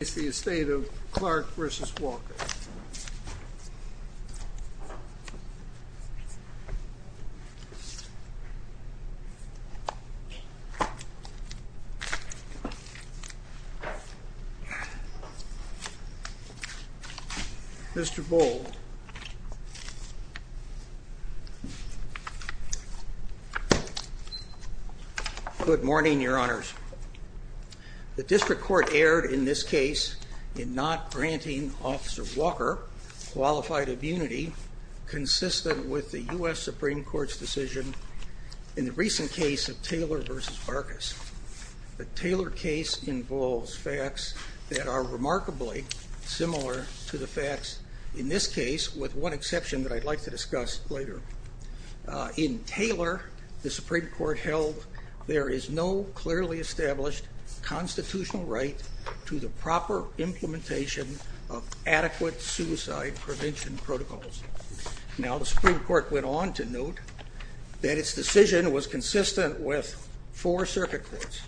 This is the estate of Clark v. Walker. Mr. Boal. Good morning, your honors. The district court erred in this case in not granting Officer Walker qualified immunity consistent with the U.S. Supreme Court's decision in the recent case of Taylor v. Barkas. The Taylor case involves facts that are remarkably similar to the facts in this case, with one exception that I'd like to discuss later. In Taylor, the Supreme Court held there is no clearly established constitutional right to the proper implementation of adequate suicide prevention protocols. Now, the Supreme Court went on to note that its decision was consistent with four circuit courts,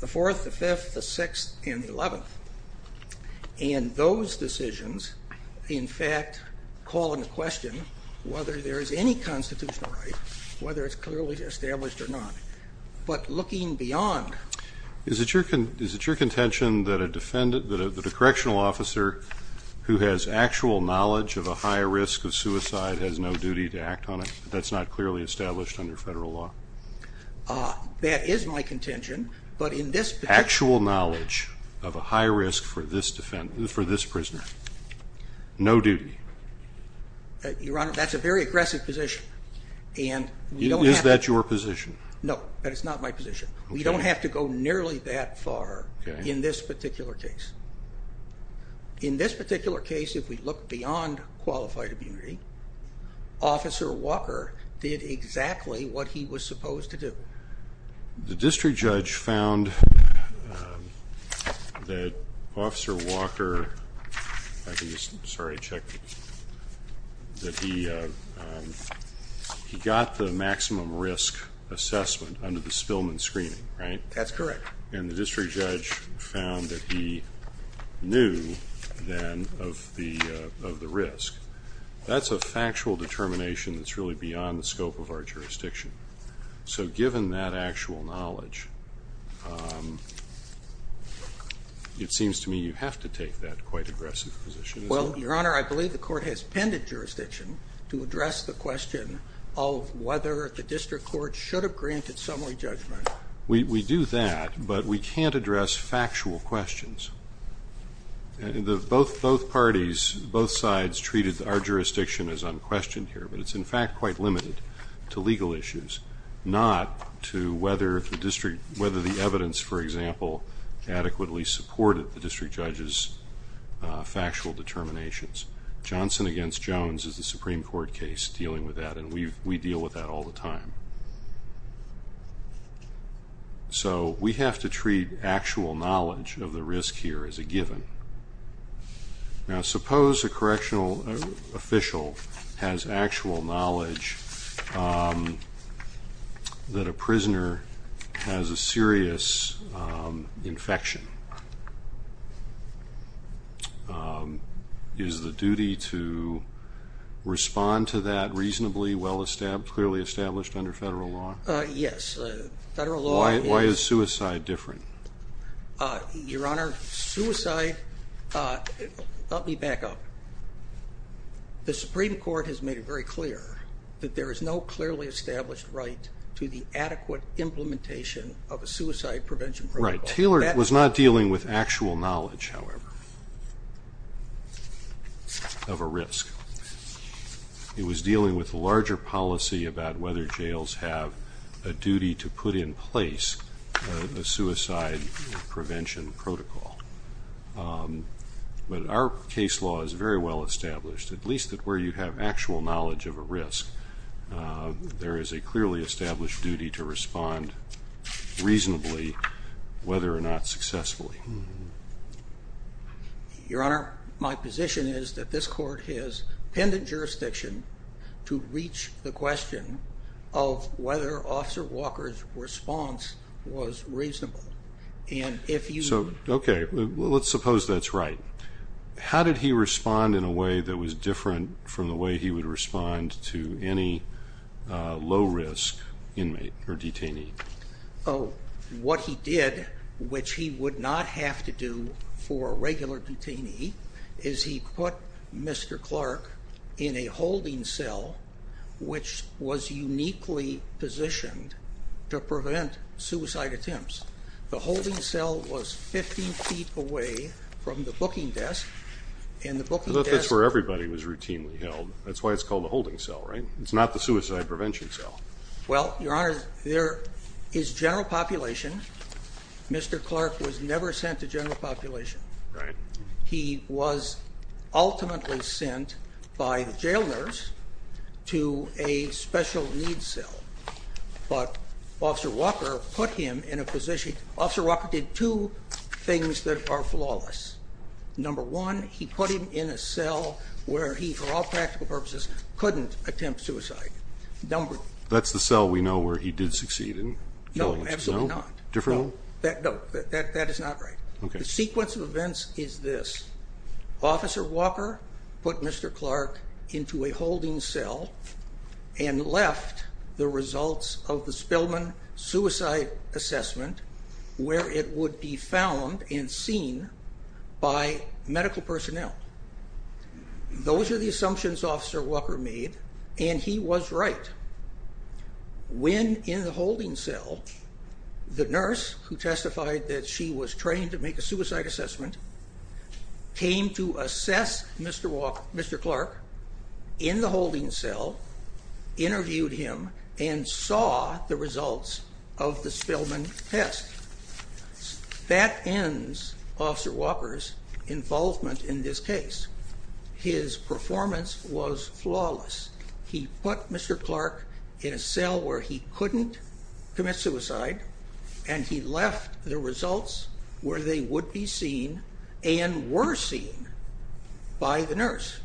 the Fourth, the Fifth, the Sixth, and the Eleventh, and those decisions in fact call into question whether there is any constitutional right, whether it's clearly established or not. But looking beyond... Is it your contention that a defendant, that a correctional officer who has actual knowledge of a high risk of suicide has no duty to act on it? That's not clearly established under federal law? That is my contention, but in this particular... Actual knowledge of a high risk for this defendant, for this prisoner, no duty? Your honor, that's a very aggressive position, and we don't have... Is that your position? No, that is not my position. We don't have to go nearly that far in this particular case. In this particular case, if we look beyond qualified immunity, Officer Walker did exactly what he was supposed to do. The district judge found that Officer Walker, sorry I checked, that he got the maximum risk assessment under the Spillman screening, right? That's correct. And the district judge found that he knew then of the risk. That's a factual determination that's really beyond the scope of our jurisdiction. So given that actual knowledge, it seems to me you have to take that quite aggressive position, isn't it? Well, your honor, I believe the court has penned a jurisdiction to address the question of whether the district court should have granted summary judgment. We do that, but we can't address factual questions. Both parties, both sides treated our jurisdiction as unquestioned here, but it's in fact quite limited to legal issues, not to whether the evidence, for example, adequately supported the district judge's factual determinations. Johnson against Jones is a Supreme Court case dealing with that, and we deal with that all the time. So we have to treat actual knowledge of the risk here as a given. Now suppose a correctional official has actual knowledge that a prisoner has a serious infection. Is the duty to respond to that reasonably well established, clearly established under federal law? Yes. Federal law is... Why is suicide different? Your honor, suicide, let me back up. The Supreme Court has made it very clear that there is no clearly established right to the adequate implementation of a suicide prevention protocol. Right. Taylor was not dealing with actual knowledge, however, of a risk. It was dealing with a larger policy about whether jails have a duty to put in place a suicide prevention protocol, but our case law is very well established, at least that where you have actual knowledge of a risk. There is a clearly established duty to respond reasonably, whether or not successfully. Your honor, my position is that this court has pendant jurisdiction to reach the question of whether Officer Walker's response was reasonable, and if you... Okay, let's suppose that's right. How did he respond in a way that was different from the way he would respond to any low-risk inmate or detainee? What he did, which he would not have to do for a regular detainee, is he put Mr. Clark in a holding cell, which was uniquely positioned to prevent suicide attempts. The holding cell was 15 feet away from the booking desk, and the booking desk... I thought that's where everybody was routinely held. That's why it's called a holding cell, right? It's not the suicide prevention cell. Well, your honor, there is general population. Mr. Clark was never sent to general population. He was ultimately sent by the jail nurse to a special needs cell, but Officer Walker put him in a position... Officer Walker did two things that are flawless. Number one, he put him in a cell where he, for all practical purposes, couldn't attempt suicide. Number... That's the cell we know where he did succeed in killing himself? No, absolutely not. Different? No, that is not right. Okay. The sequence of events is this. Officer Walker put Mr. Clark into a holding cell and left the results of the Spillman suicide assessment where it would be found and seen by medical personnel. Those are the assumptions Officer Walker made, and he was right. When in the holding cell, the nurse who testified that she was trained to make a suicide assessment came to assess Mr. Clark in the holding cell, interviewed him, and saw the results of the Spillman test. That ends Officer Walker's involvement in this case. His performance was flawless. He put Mr. Clark in a cell where he couldn't commit suicide, and he left the results where they would be seen and were seen by the nurse.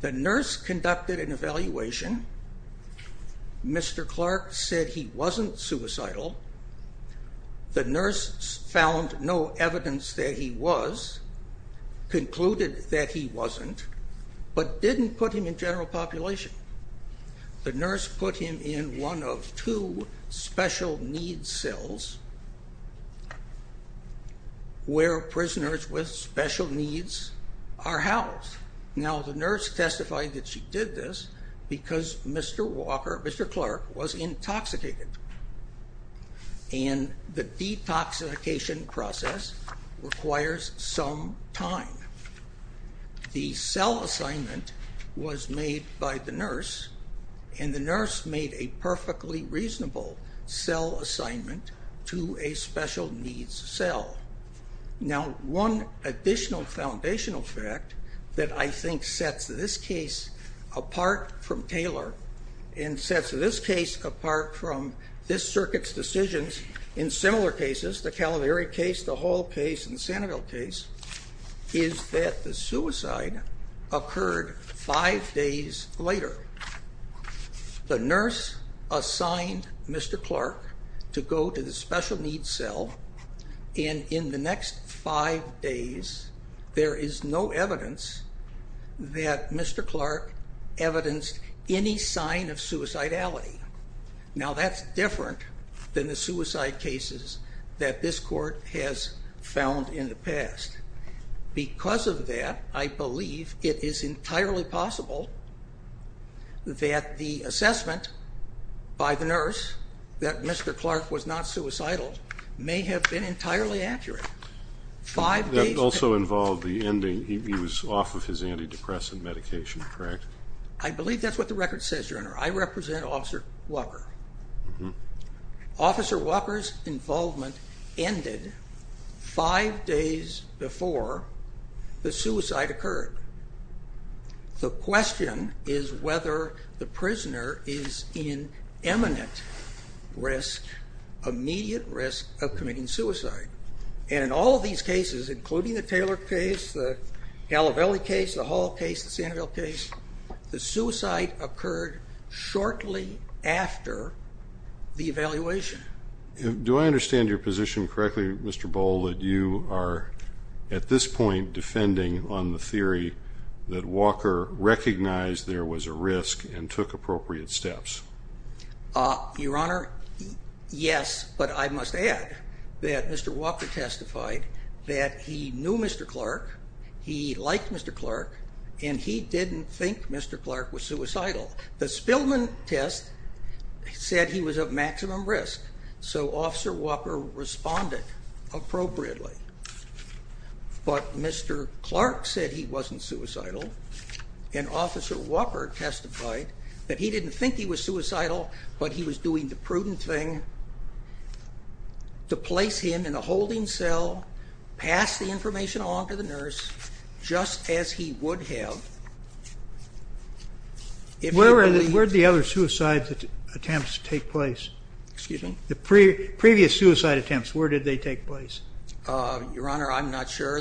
The nurse conducted an evaluation. Mr. Clark said he wasn't suicidal. The nurse found no evidence that he was, concluded that he wasn't, but didn't put him in general population. The nurse put him in one of two special needs cells where prisoners with special needs are housed. Now the nurse testified that she did this because Mr. Clark was intoxicated, and the detoxification process requires some time. The cell assignment was made by the nurse, and the nurse made a perfectly reasonable cell assignment to a special needs cell. Now one additional foundational fact that I think sets this case apart from Taylor and sets this case apart from this circuit's decisions in similar cases, the Calvary case, the Hall case, and the Sanibel case, is that the suicide occurred five days later. The nurse assigned Mr. Clark to go to the special needs cell, and in the next five days there is no evidence that Mr. Clark evidenced any sign of suicidality. Now that's different than the suicide cases that this court has found in the past. Because of that, I believe it is entirely possible that the assessment by the nurse that Mr. Clark was not suicidal may have been entirely accurate. Five days... That also involved the ending, he was off of his antidepressant medication, correct? I represent Officer Walker. Officer Walker's involvement ended five days before the suicide occurred. The question is whether the prisoner is in imminent risk, immediate risk, of committing suicide. And in all of these cases, including the Taylor case, the Calvary case, the Hall case, the suicide occurred shortly after the evaluation. Do I understand your position correctly, Mr. Boll, that you are at this point defending on the theory that Walker recognized there was a risk and took appropriate steps? Your Honor, yes. But I must add that Mr. Walker testified that he knew Mr. Clark, he liked Mr. Clark, and he didn't think Mr. Clark was suicidal. The Spillman test said he was at maximum risk, so Officer Walker responded appropriately. But Mr. Clark said he wasn't suicidal, and Officer Walker testified that he didn't think he was suicidal, but he was doing the prudent thing to place him in a holding cell, pass the information on to the nurse, just as he would have if he believed... Where did the other suicide attempts take place? The previous suicide attempts, where did they take place? Your Honor, I'm not sure.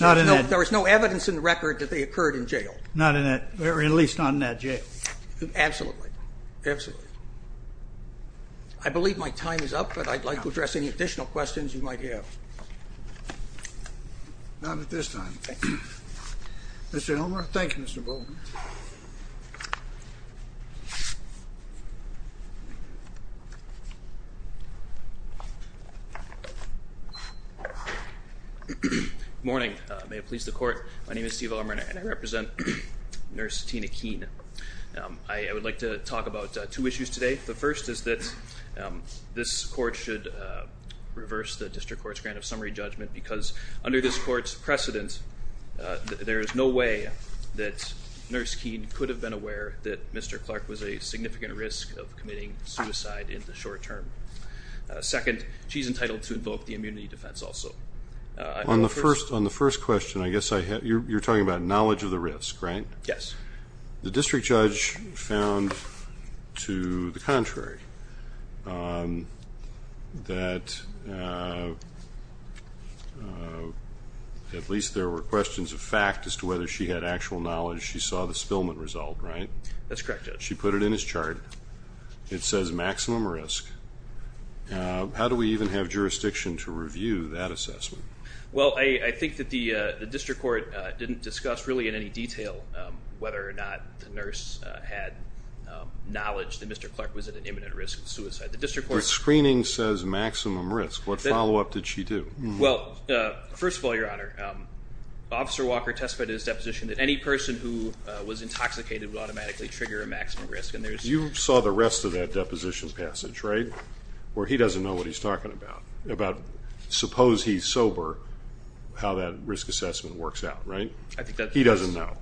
Not in that... There was no evidence in the record that they occurred in jail. Not in that... At least not in that jail. Absolutely. Absolutely. I believe my time is up, but I'd like to address any additional questions you might have. Not at this time. Thank you. Mr. Elmer, thank you, Mr. Bowman. Good morning. May it please the Court, my name is Steve Elmer, and I represent Nurse Tina Keene. I would like to talk about two issues today. The first is that this Court should reverse the District Court's grant of summary judgment because under this Court's precedent, there is no way that Nurse Keene could have been aware that Mr. Clark was a significant risk of committing suicide in the short term. Second, she's entitled to invoke the immunity defense also. On the first question, I guess you're talking about knowledge of the risk, right? Yes. The District Judge found to the contrary, that at least there were questions of fact as to whether she had actual knowledge. She saw the spillment result, right? That's correct, Judge. She put it in his chart. It says maximum risk. How do we even have jurisdiction to review that assessment? Well, I think that the District Court didn't discuss really in any detail whether or not the nurse had knowledge that Mr. Clark was at an imminent risk of suicide. The District Court... The screening says maximum risk. What follow-up did she do? Well, first of all, Your Honor, Officer Walker testified in his deposition that any person who was intoxicated would automatically trigger a maximum risk, and there's... You saw the rest of that deposition passage, right? Where he doesn't know what he's talking about, about suppose he's sober, how that risk assessment works out, right? He doesn't know.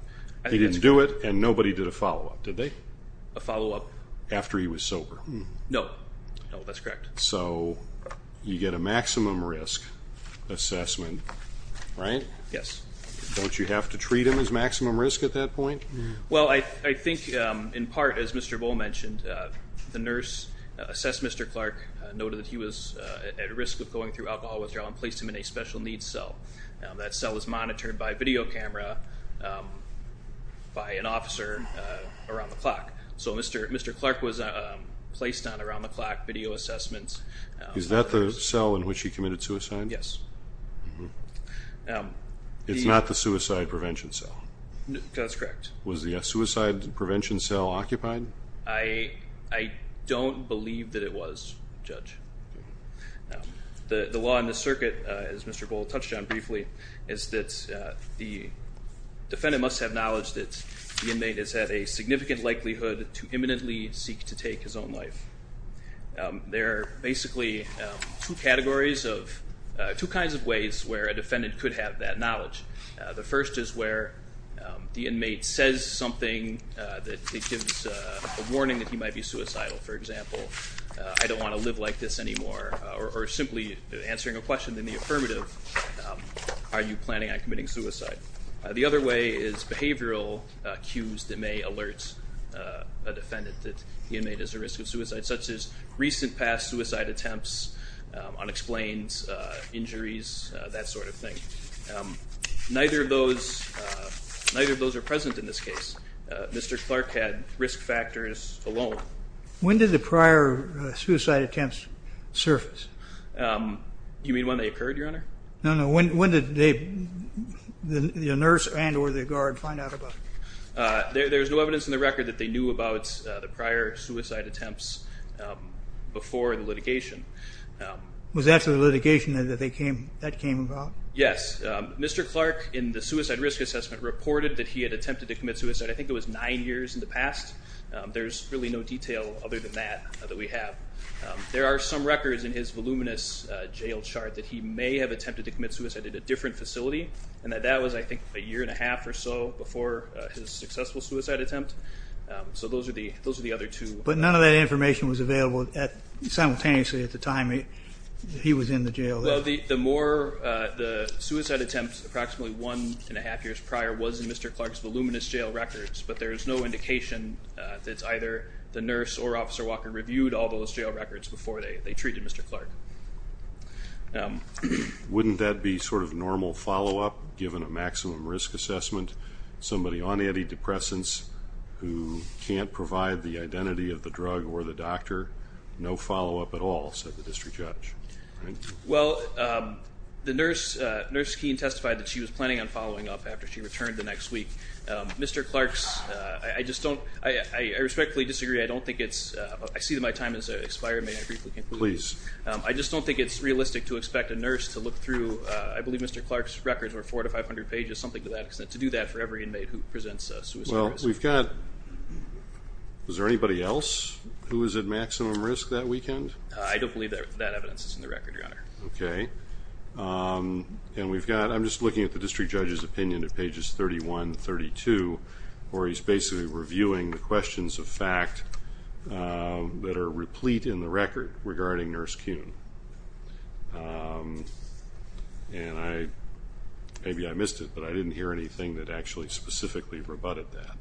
He didn't do it, and nobody did a follow-up, did they? A follow-up? After he was sober. No. No, that's correct. So you get a maximum risk assessment, right? Yes. Don't you have to treat him as maximum risk at that point? Well, I think in part, as Mr. Bohl mentioned, the nurse assessed Mr. Clark, noted that he was at risk of going through alcohol withdrawal, and placed him in a special needs cell. That cell was monitored by video camera by an officer around the clock. So Mr. Clark was placed on around-the-clock video assessments. Is that the cell in which he committed suicide? Yes. It's not the suicide prevention cell? That's correct. Was the suicide prevention cell occupied? I don't believe that it was, Judge. The law in the circuit, as Mr. Bohl touched on briefly, is that the defendant must have knowledge that the inmate is at a significant likelihood to imminently seek to take his own life. There are basically two categories of two kinds of ways where a defendant could have that knowledge. The first is where the inmate says something that gives a warning that he might be suicidal. For example, I don't want to live like this anymore, or simply answering a question in the affirmative, are you planning on committing suicide? The other way is behavioral cues that may alert a defendant that the inmate is at risk of suicide, such as recent past suicide attempts, unexplained injuries, that sort of thing. Neither of those are present in this case. Mr. Clark had risk factors alone. When did the prior suicide attempts surface? You mean when they occurred, Your Honor? No, no. When did the nurse and or the guard find out about it? There's no evidence in the record that they knew about the prior suicide attempts before the litigation. Was that after the litigation that that came about? Yes. Mr. Clark, in the suicide risk assessment, reported that he had attempted to commit suicide, I think it was nine years in the past. There's really no detail other than that that we have. There are some records in his voluminous jail chart that he may have attempted to commit suicide at a different facility, and that that was, I think, a year and a half or so before his successful suicide attempt. So those are the other two. But none of that information was available simultaneously at the time he was in the jail? Well, the suicide attempt approximately one and a half years prior was in Mr. Clark's voluminous jail records, but there is no indication that either the nurse or Officer Walker reviewed all those jail records before they treated Mr. Clark. Wouldn't that be sort of normal follow-up, given a maximum risk assessment, somebody on antidepressants who can't provide the identity of the drug or the doctor, no follow-up at all, said the district judge? Well, the nurse testified that she was planning on following up after she returned the next week. Mr. Clark, I respectfully disagree. I see that my time has expired. May I briefly conclude? Please. I just don't think it's realistic to expect a nurse to look through, I believe Mr. Clark's records were 400 to 500 pages, something to that extent, to do that for every inmate who presents a suicide risk. Well, we've got – was there anybody else who was at maximum risk that weekend? I don't believe that evidence is in the record, Your Honor. Okay. And we've got – I'm just looking at the district judge's opinion at pages 31 and 32, where he's basically reviewing the questions of fact that are replete in the record regarding Nurse Kuhn. And I – maybe I missed it, but I didn't hear anything that actually specifically rebutted that.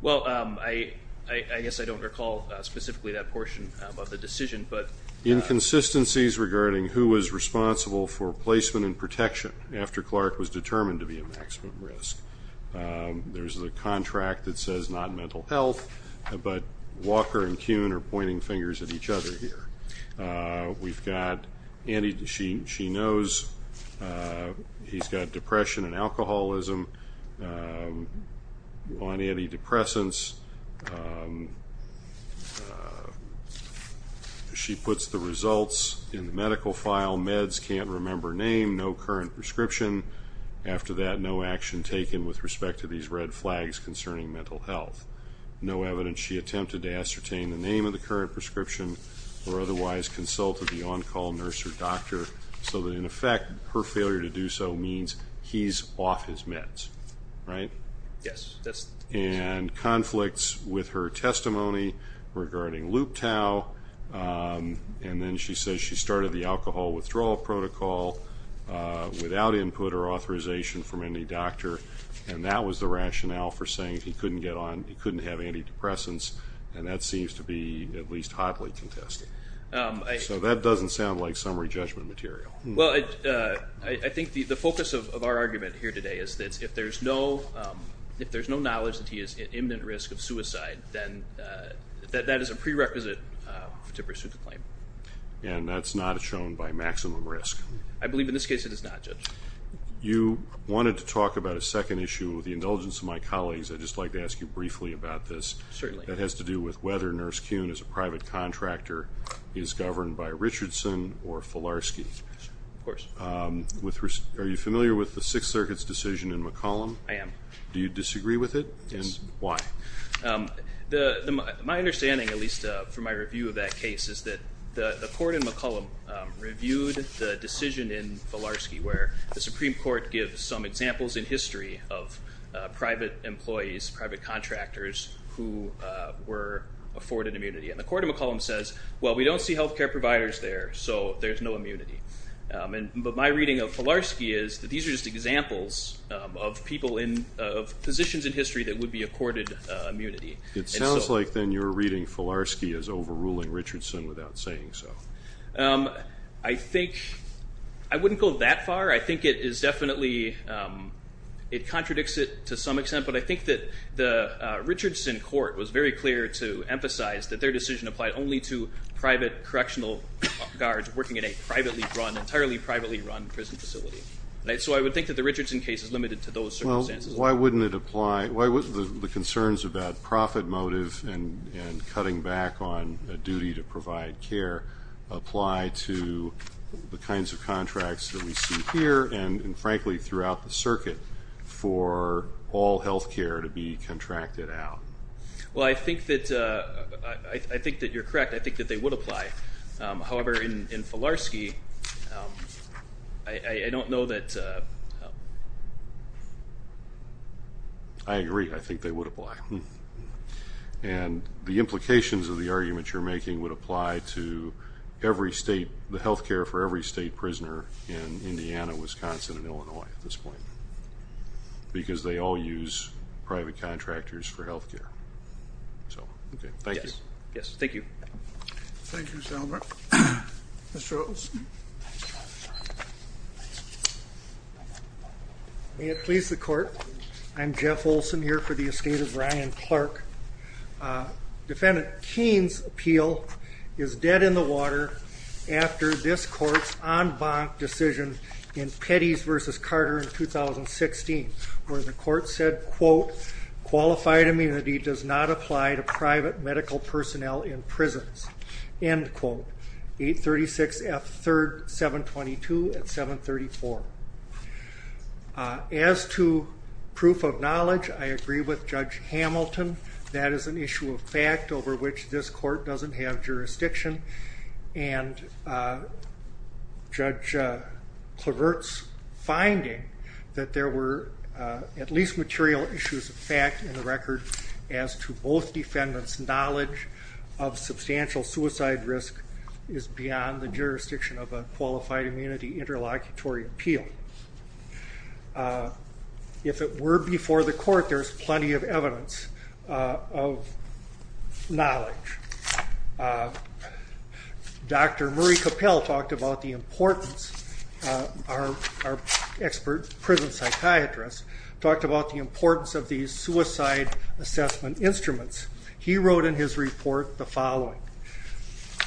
Well, I guess I don't recall specifically that portion of the decision, but – Inconsistencies regarding who was responsible for placement and protection after Clark was determined to be at maximum risk. There's a contract that says not mental health, but Walker and Kuhn are pointing fingers at each other here. We've got – she knows he's got depression and alcoholism on antidepressants. She puts the results in the medical file. All meds can't remember name, no current prescription. After that, no action taken with respect to these red flags concerning mental health. No evidence she attempted to ascertain the name of the current prescription or otherwise consult with the on-call nurse or doctor so that, in effect, her failure to do so means he's off his meds. Right? Yes. And conflicts with her testimony regarding loop-tow, and then she says she started the alcohol withdrawal protocol without input or authorization from any doctor, and that was the rationale for saying he couldn't get on – he couldn't have antidepressants, and that seems to be at least hotly contested. So that doesn't sound like summary judgment material. Well, I think the focus of our argument here today is that if there's no knowledge that he is at imminent risk of suicide, then that is a prerequisite to pursue the claim. And that's not shown by maximum risk. I believe in this case it is not, Judge. You wanted to talk about a second issue with the indulgence of my colleagues. I'd just like to ask you briefly about this. Certainly. That has to do with whether Nurse Kuhn, as a private contractor, is governed by Richardson or Filarski. Of course. Are you familiar with the Sixth Circuit's decision in McCollum? I am. Do you disagree with it? Yes. And why? My understanding, at least from my review of that case, is that the court in McCollum reviewed the decision in Filarski where the Supreme Court gives some examples in history of private employees, private contractors, who were afforded immunity. And the court in McCollum says, well, we don't see health care providers there, so there's no immunity. But my reading of Filarski is that these are just examples of people in positions in history that would be accorded immunity. It sounds like then you're reading Filarski as overruling Richardson without saying so. I think I wouldn't go that far. I think it is definitely, it contradicts it to some extent. But I think that the Richardson court was very clear to emphasize that their decision applied only to private correctional guards working in a privately run, entirely privately run prison facility. So I would think that the Richardson case is limited to those circumstances. Well, why wouldn't it apply? Why wouldn't the concerns about profit motive and cutting back on a duty to provide care apply to the kinds of contracts that we see here and, frankly, throughout the circuit for all health care to be contracted out? Well, I think that you're correct. I think that they would apply. However, in Filarski, I don't know that. I agree. I think they would apply. And the implications of the argument you're making would apply to every state, the health care for every state prisoner in Indiana, Wisconsin, and Illinois at this point because they all use private contractors for health care. So, okay, thank you. Yes, thank you. Thank you, Mr. Albert. Mr. Olson. May it please the court. I'm Jeff Olson here for the estate of Ryan Clark. Defendant Keene's appeal is dead in the water after this court's en banc decision in Pettys v. Carter in 2016, where the court said, quote, qualified immunity does not apply to private medical personnel in prisons, end quote. 836 F. 3rd, 722 at 734. As to proof of knowledge, I agree with Judge Hamilton. That is an issue of fact over which this court doesn't have jurisdiction. And Judge Clavert's finding that there were at least material issues of fact in the record as to both defendants' knowledge of substantial suicide risk is beyond the jurisdiction of a qualified immunity interlocutory appeal. If it were before the court, there's plenty of evidence of knowledge. Dr. Murray Cappell talked about the importance, our expert prison psychiatrist, talked about the importance of these suicide assessment instruments. He wrote in his report the following,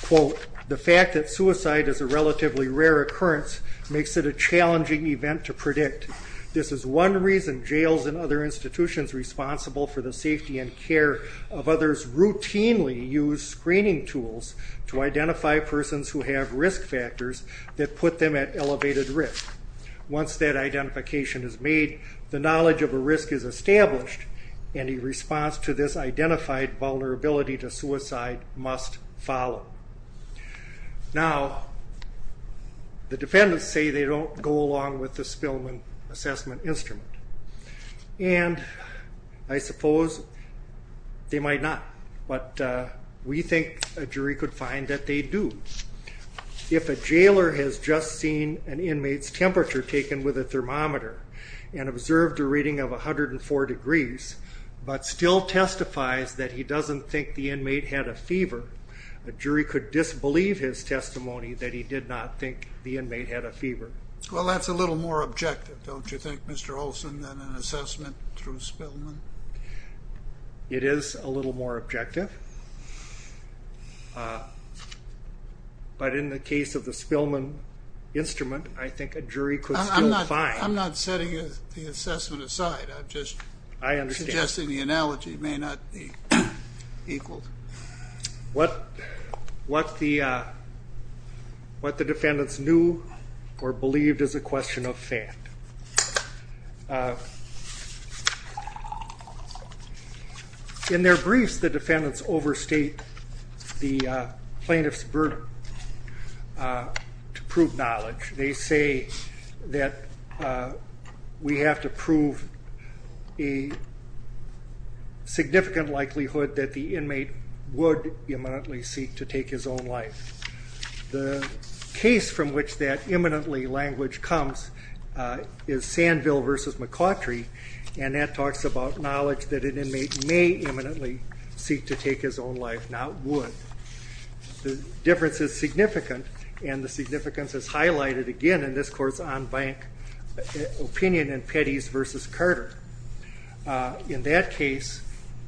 quote, the fact that suicide is a relatively rare occurrence makes it a challenging event to predict. This is one reason jails and other institutions responsible for the safety and care of others routinely use screening tools to identify persons who have risk factors that put them at elevated risk. Once that identification is made, the knowledge of a risk is established, and a response to this identified vulnerability to suicide must follow. Now, the defendants say they don't go along with the Spillman assessment instrument, and I suppose they might not, but we think a jury could find that they do. If a jailer has just seen an inmate's temperature taken with a thermometer and observed a reading of 104 degrees but still testifies that he doesn't think the inmate had a fever, a jury could disbelieve his testimony that he did not think the inmate had a fever. Well, that's a little more objective, don't you think, Mr. Olson, than an assessment through Spillman? It is a little more objective, but in the case of the Spillman instrument, I think a jury could still find. I'm not setting the assessment aside. I'm just suggesting the analogy may not be equaled. What the defendants knew or believed is a question of fact. In their briefs, the defendants overstate the plaintiff's burden to prove knowledge. They say that we have to prove a significant likelihood that the inmate would imminently seek to take his own life. The case from which that imminently language comes is Sandville v. McCautry, and that talks about knowledge that an inmate may imminently seek to take his own life, not would. The difference is significant, and the significance is highlighted again in this court's on-bank opinion in Petty's v. Carter. In that case,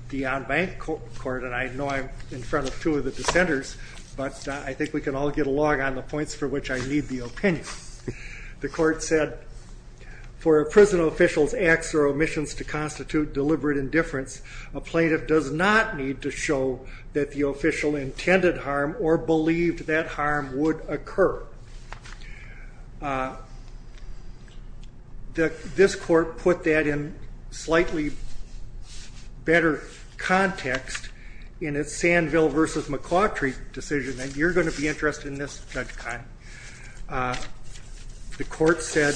the on-bank court, and I know I'm in front of two of the dissenters, but I think we can all get along on the points for which I need the opinion. The court said, for a prison official's acts or omissions to constitute deliberate indifference, a plaintiff does not need to show that the official intended harm or believed that harm would occur. This court put that in slightly better context in its Sandville v. McCautry decision, and you're going to be interested in this, Judge Kine. The court said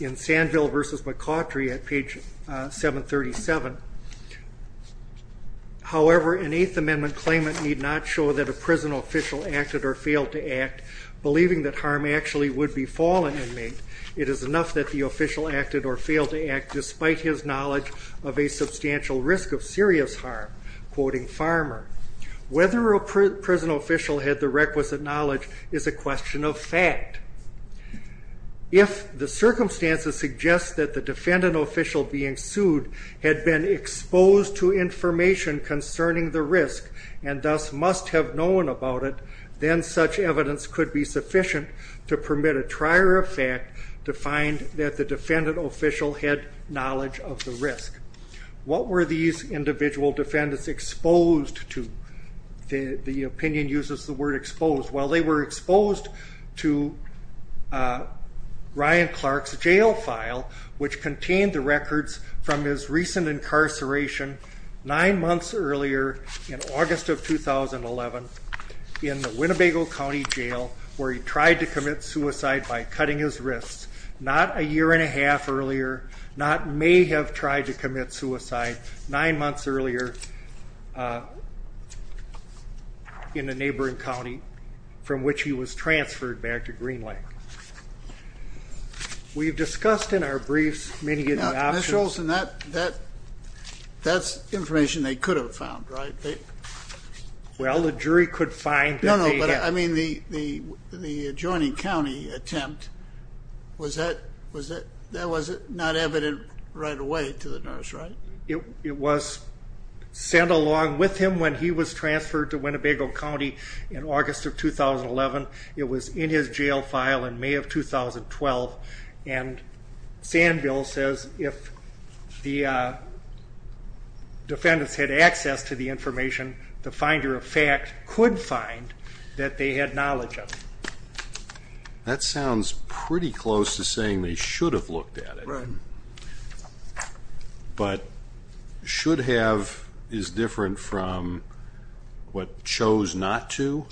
in Sandville v. McCautry at page 737, however, an Eighth Amendment claimant need not show that a prison official acted or failed to act, believing that harm actually would befall an inmate. It is enough that the official acted or failed to act, despite his knowledge of a substantial risk of serious harm. Whether a prison official had the requisite knowledge is a question of fact. If the circumstances suggest that the defendant official being sued had been exposed to information concerning the risk and thus must have known about it, then such evidence could be sufficient to permit a trier of fact to find that the defendant official had knowledge of the risk. What were these individual defendants exposed to? The opinion uses the word exposed. Well, they were exposed to Ryan Clark's jail file, which contained the records from his recent incarceration nine months earlier in August of 2011 in the Winnebago County Jail, where he tried to commit suicide by cutting his wrists, not a year and a half earlier, not may have tried to commit suicide, nine months earlier in a neighboring county from which he was transferred back to Green Lake. We've discussed in our briefs many of the options. Now, Mr. Olson, that's information they could have found, right? I mean, the adjoining county attempt, that was not evident right away to the nurse, right? It was sent along with him when he was transferred to Winnebago County in August of 2011. It was in his jail file in May of 2012, and Sandville says if the defendants had access to the information, the finder of fact could find that they had knowledge of it. That sounds pretty close to saying they should have looked at it. Right. But should have is different from what chose not to,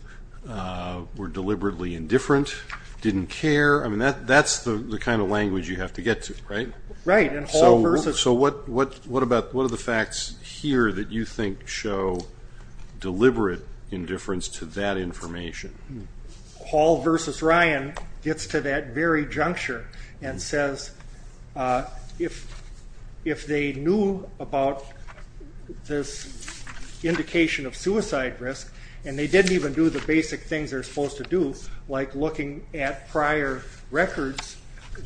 were deliberately indifferent, didn't care. I mean, that's the kind of language you have to get to, right? Right. So what are the facts here that you think show deliberate indifference to that information? Hall v. Ryan gets to that very juncture and says if they knew about this indication of suicide risk and they didn't even do the basic things they're supposed to do, like looking at prior records,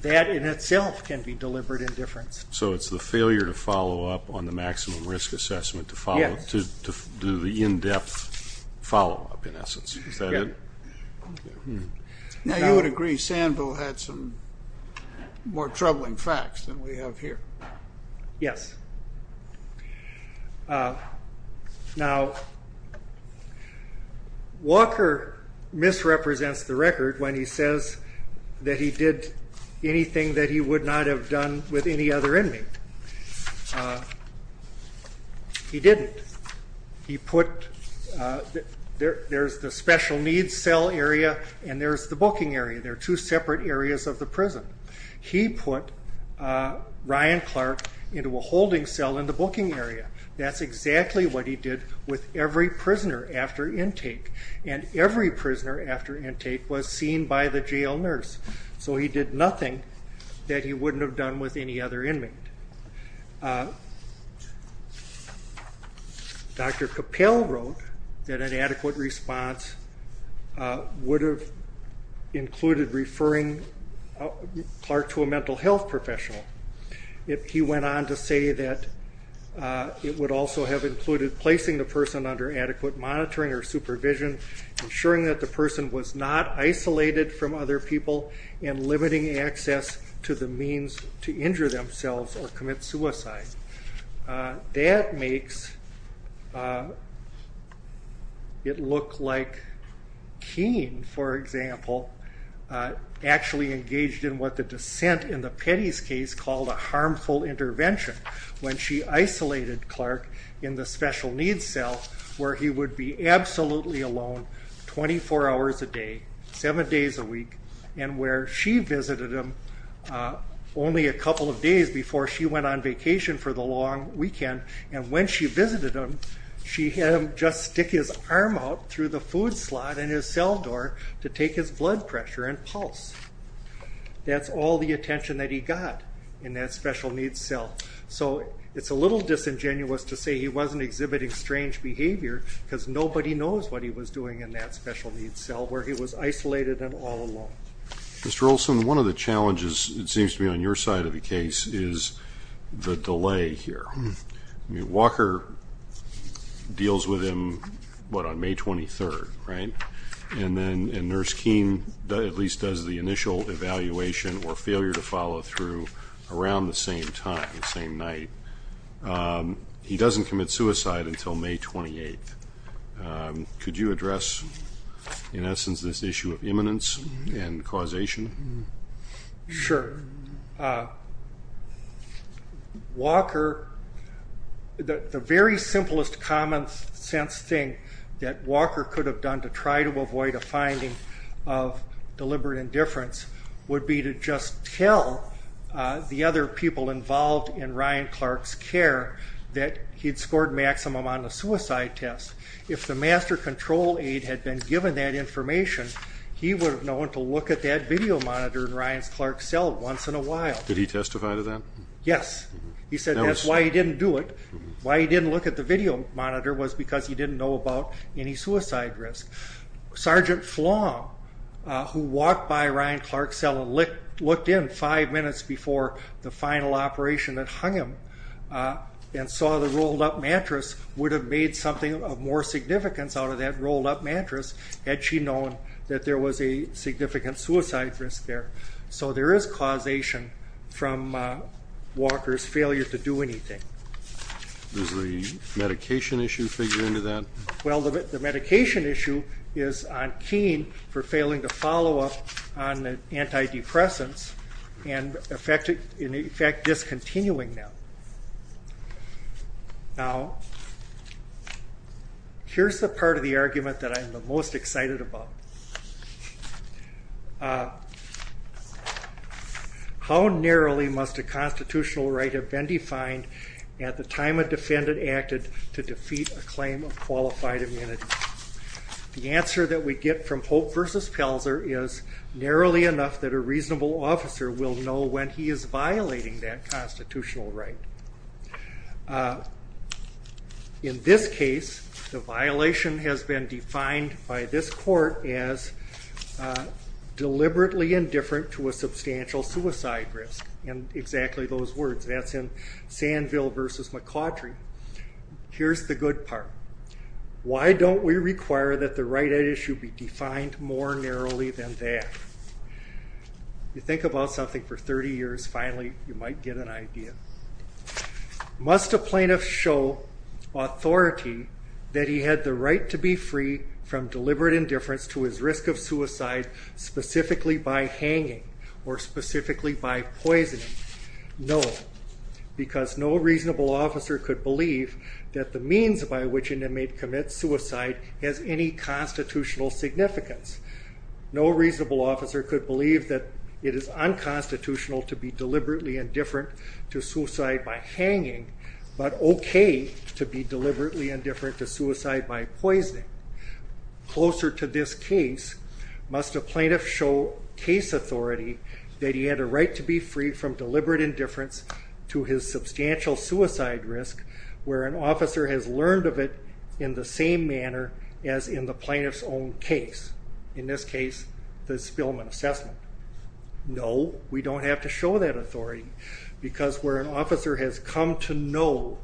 that in itself can be deliberate indifference. So it's the failure to follow up on the maximum risk assessment to do the in-depth follow-up, in essence. Is that it? Now, you would agree Sandville had some more troubling facts than we have here. Yes. Now, Walker misrepresents the record when he says that he did anything that he would not have done with any other inmate. He didn't. There's the special needs cell area and there's the booking area. They're two separate areas of the prison. He put Ryan Clark into a holding cell in the booking area. That's exactly what he did with every prisoner after intake, and every prisoner after intake was seen by the jail nurse. So he did nothing that he wouldn't have done with any other inmate. Dr. Capel wrote that an adequate response would have included referring Clark to a mental health professional. He went on to say that it would also have included placing the person under adequate monitoring or supervision, ensuring that the person was not isolated from other people and limiting access to the means to injure themselves or commit suicide. That makes it look like Keene, for example, actually engaged in what the dissent in the Petty's case called a harmful intervention when she isolated Clark in the special needs cell where he would be absolutely alone 24 hours a day, seven days a week, and where she visited him only a couple of days before she went on vacation for the long weekend. And when she visited him, she had him just stick his arm out through the food slot in his cell door to take his blood pressure and pulse. That's all the attention that he got in that special needs cell. So it's a little disingenuous to say he wasn't exhibiting strange behavior because nobody knows what he was doing in that special needs cell where he was isolated and all alone. Mr. Olson, one of the challenges, it seems to me, on your side of the case is the delay here. Walker deals with him, what, on May 23rd, right? And then Nurse Keene at least does the initial evaluation or failure to follow through around the same time, the same night. He doesn't commit suicide until May 28th. Could you address, in essence, this issue of imminence and causation? Sure. Walker, the very simplest common sense thing that Walker could have done to try to avoid a finding of deliberate indifference would be to just tell the other people involved in Ryan Clark's care that he'd scored maximum on the suicide test. If the master control aide had been given that information, he would have known to look at that video monitor in Ryan Clark's cell once in a while. Did he testify to that? Yes. He said that's why he didn't do it. Why he didn't look at the video monitor was because he didn't know about any suicide risk. Sergeant Flom, who walked by Ryan Clark's cell and looked in five minutes before the final operation that hung him and saw the rolled-up mattress, would have made something of more significance out of that rolled-up mattress had she known that there was a significant suicide risk there. So there is causation from Walker's failure to do anything. Does the medication issue figure into that? Well, the medication issue is on Keene for failing to follow up on the antidepressants and, in effect, discontinuing them. Now, here's the part of the argument that I'm the most excited about. How narrowly must a constitutional right have been defined at the time a defendant acted to defeat a claim of qualified immunity? The answer that we get from Hope v. Pelzer is narrowly enough that a reasonable officer will know when he is violating that constitutional right. In this case, the violation has been defined by this court as deliberately indifferent to a substantial suicide risk. And exactly those words, that's in Sanville v. McCautry. Here's the good part. Why don't we require that the right at issue be defined more narrowly than that? You think about something for 30 years, finally you might get an idea. Must a plaintiff show authority that he had the right to be free from deliberate indifference to his risk of suicide specifically by hanging or specifically by poisoning? No, because no reasonable officer could believe that the means by which an inmate commits suicide has any constitutional significance. No reasonable officer could believe that it is unconstitutional to be deliberately indifferent to suicide by hanging, but okay to be deliberately indifferent to suicide by poisoning. Closer to this case, must a plaintiff show case authority that he had a right to be free from deliberate indifference to his substantial suicide risk where an officer has learned of it in the same manner as in the plaintiff's own case. In this case, the Spillman assessment. No, we don't have to show that authority because where an officer has come to know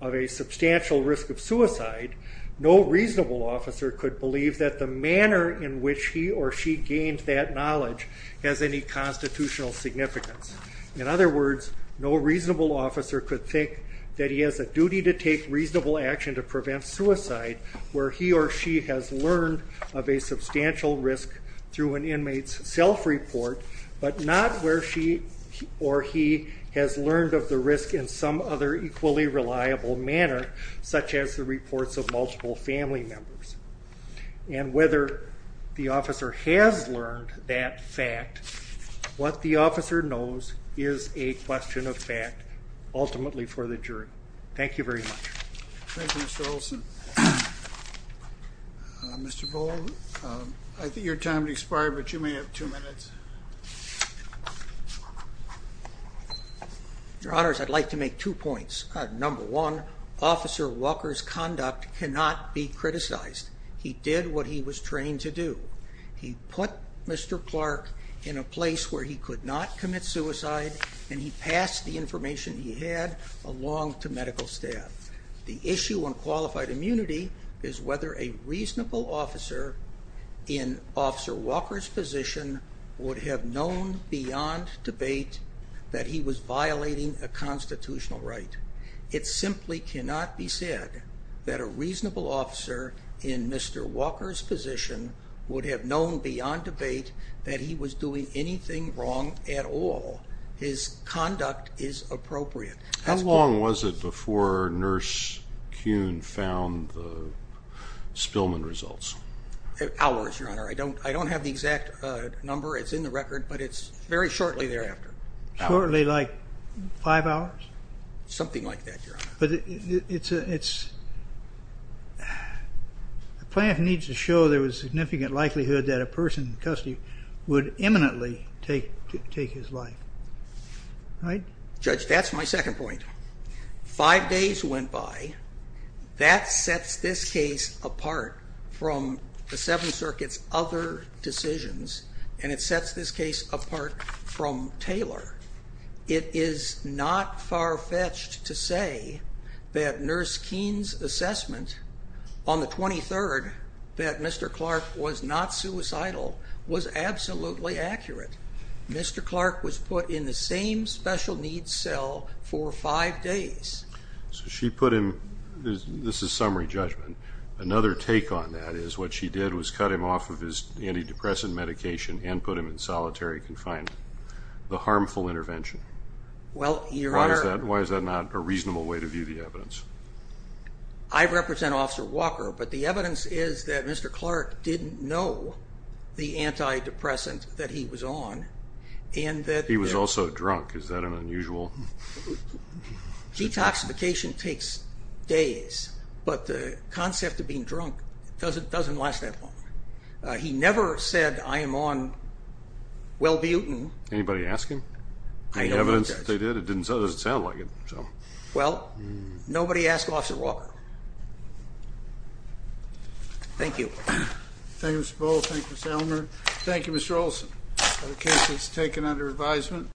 of a substantial risk of suicide, no reasonable officer could believe that the manner in which he or she gained that knowledge has any constitutional significance. In other words, no reasonable officer could think that he has a duty to take reasonable action to prevent suicide where he or she has learned of a substantial risk through an inmate's self-report, but not where she or he has learned of the risk in some other equally reliable manner, such as the reports of multiple family members. And whether the officer has learned that fact, what the officer knows is a question of fact, ultimately for the jury. Thank you very much. Thank you, Mr. Olson. Mr. Boll, I think your time has expired, but you may have two minutes. Your Honors, I'd like to make two points. Number one, Officer Walker's conduct cannot be criticized. He did what he was trained to do. He put Mr. Clark in a place where he could not commit suicide, and he passed the information he had along to medical staff. The issue on qualified immunity is whether a reasonable officer in Officer Walker's position would have known beyond debate that he was violating a constitutional right. It simply cannot be said that a reasonable officer in Mr. Walker's position would have known beyond debate that he was doing anything wrong at all. His conduct is appropriate. How long was it before Nurse Kuhn found the Spillman results? Hours, Your Honor. I don't have the exact number. It's in the record, but it's very shortly thereafter. Shortly, like five hours? Something like that, Your Honor. But the plan needs to show there was significant likelihood that a person in custody would imminently take his life, right? Judge, that's my second point. Five days went by. That sets this case apart from the Seventh Circuit's other decisions, and it sets this case apart from Taylor. It is not far-fetched to say that Nurse Kuhn's assessment on the 23rd that Mr. Clark was not suicidal was absolutely accurate. Mr. Clark was put in the same special-needs cell for five days. So she put him—this is summary judgment. Another take on that is what she did was cut him off of his antidepressant medication and put him in solitary confinement. The harmful intervention. Well, Your Honor— I represent Officer Walker, but the evidence is that Mr. Clark didn't know the antidepressant that he was on. He was also drunk. Is that unusual? Detoxification takes days, but the concept of being drunk doesn't last that long. He never said, I am on Wellbuten. Anybody ask him? I don't think so. The evidence that they did, it doesn't sound like it. Well, nobody ask Officer Walker. Thank you. Thank you, Mr. Bull. Thank you, Mr. Elmer. Thank you, Mr. Olson. The case is taken under advisement.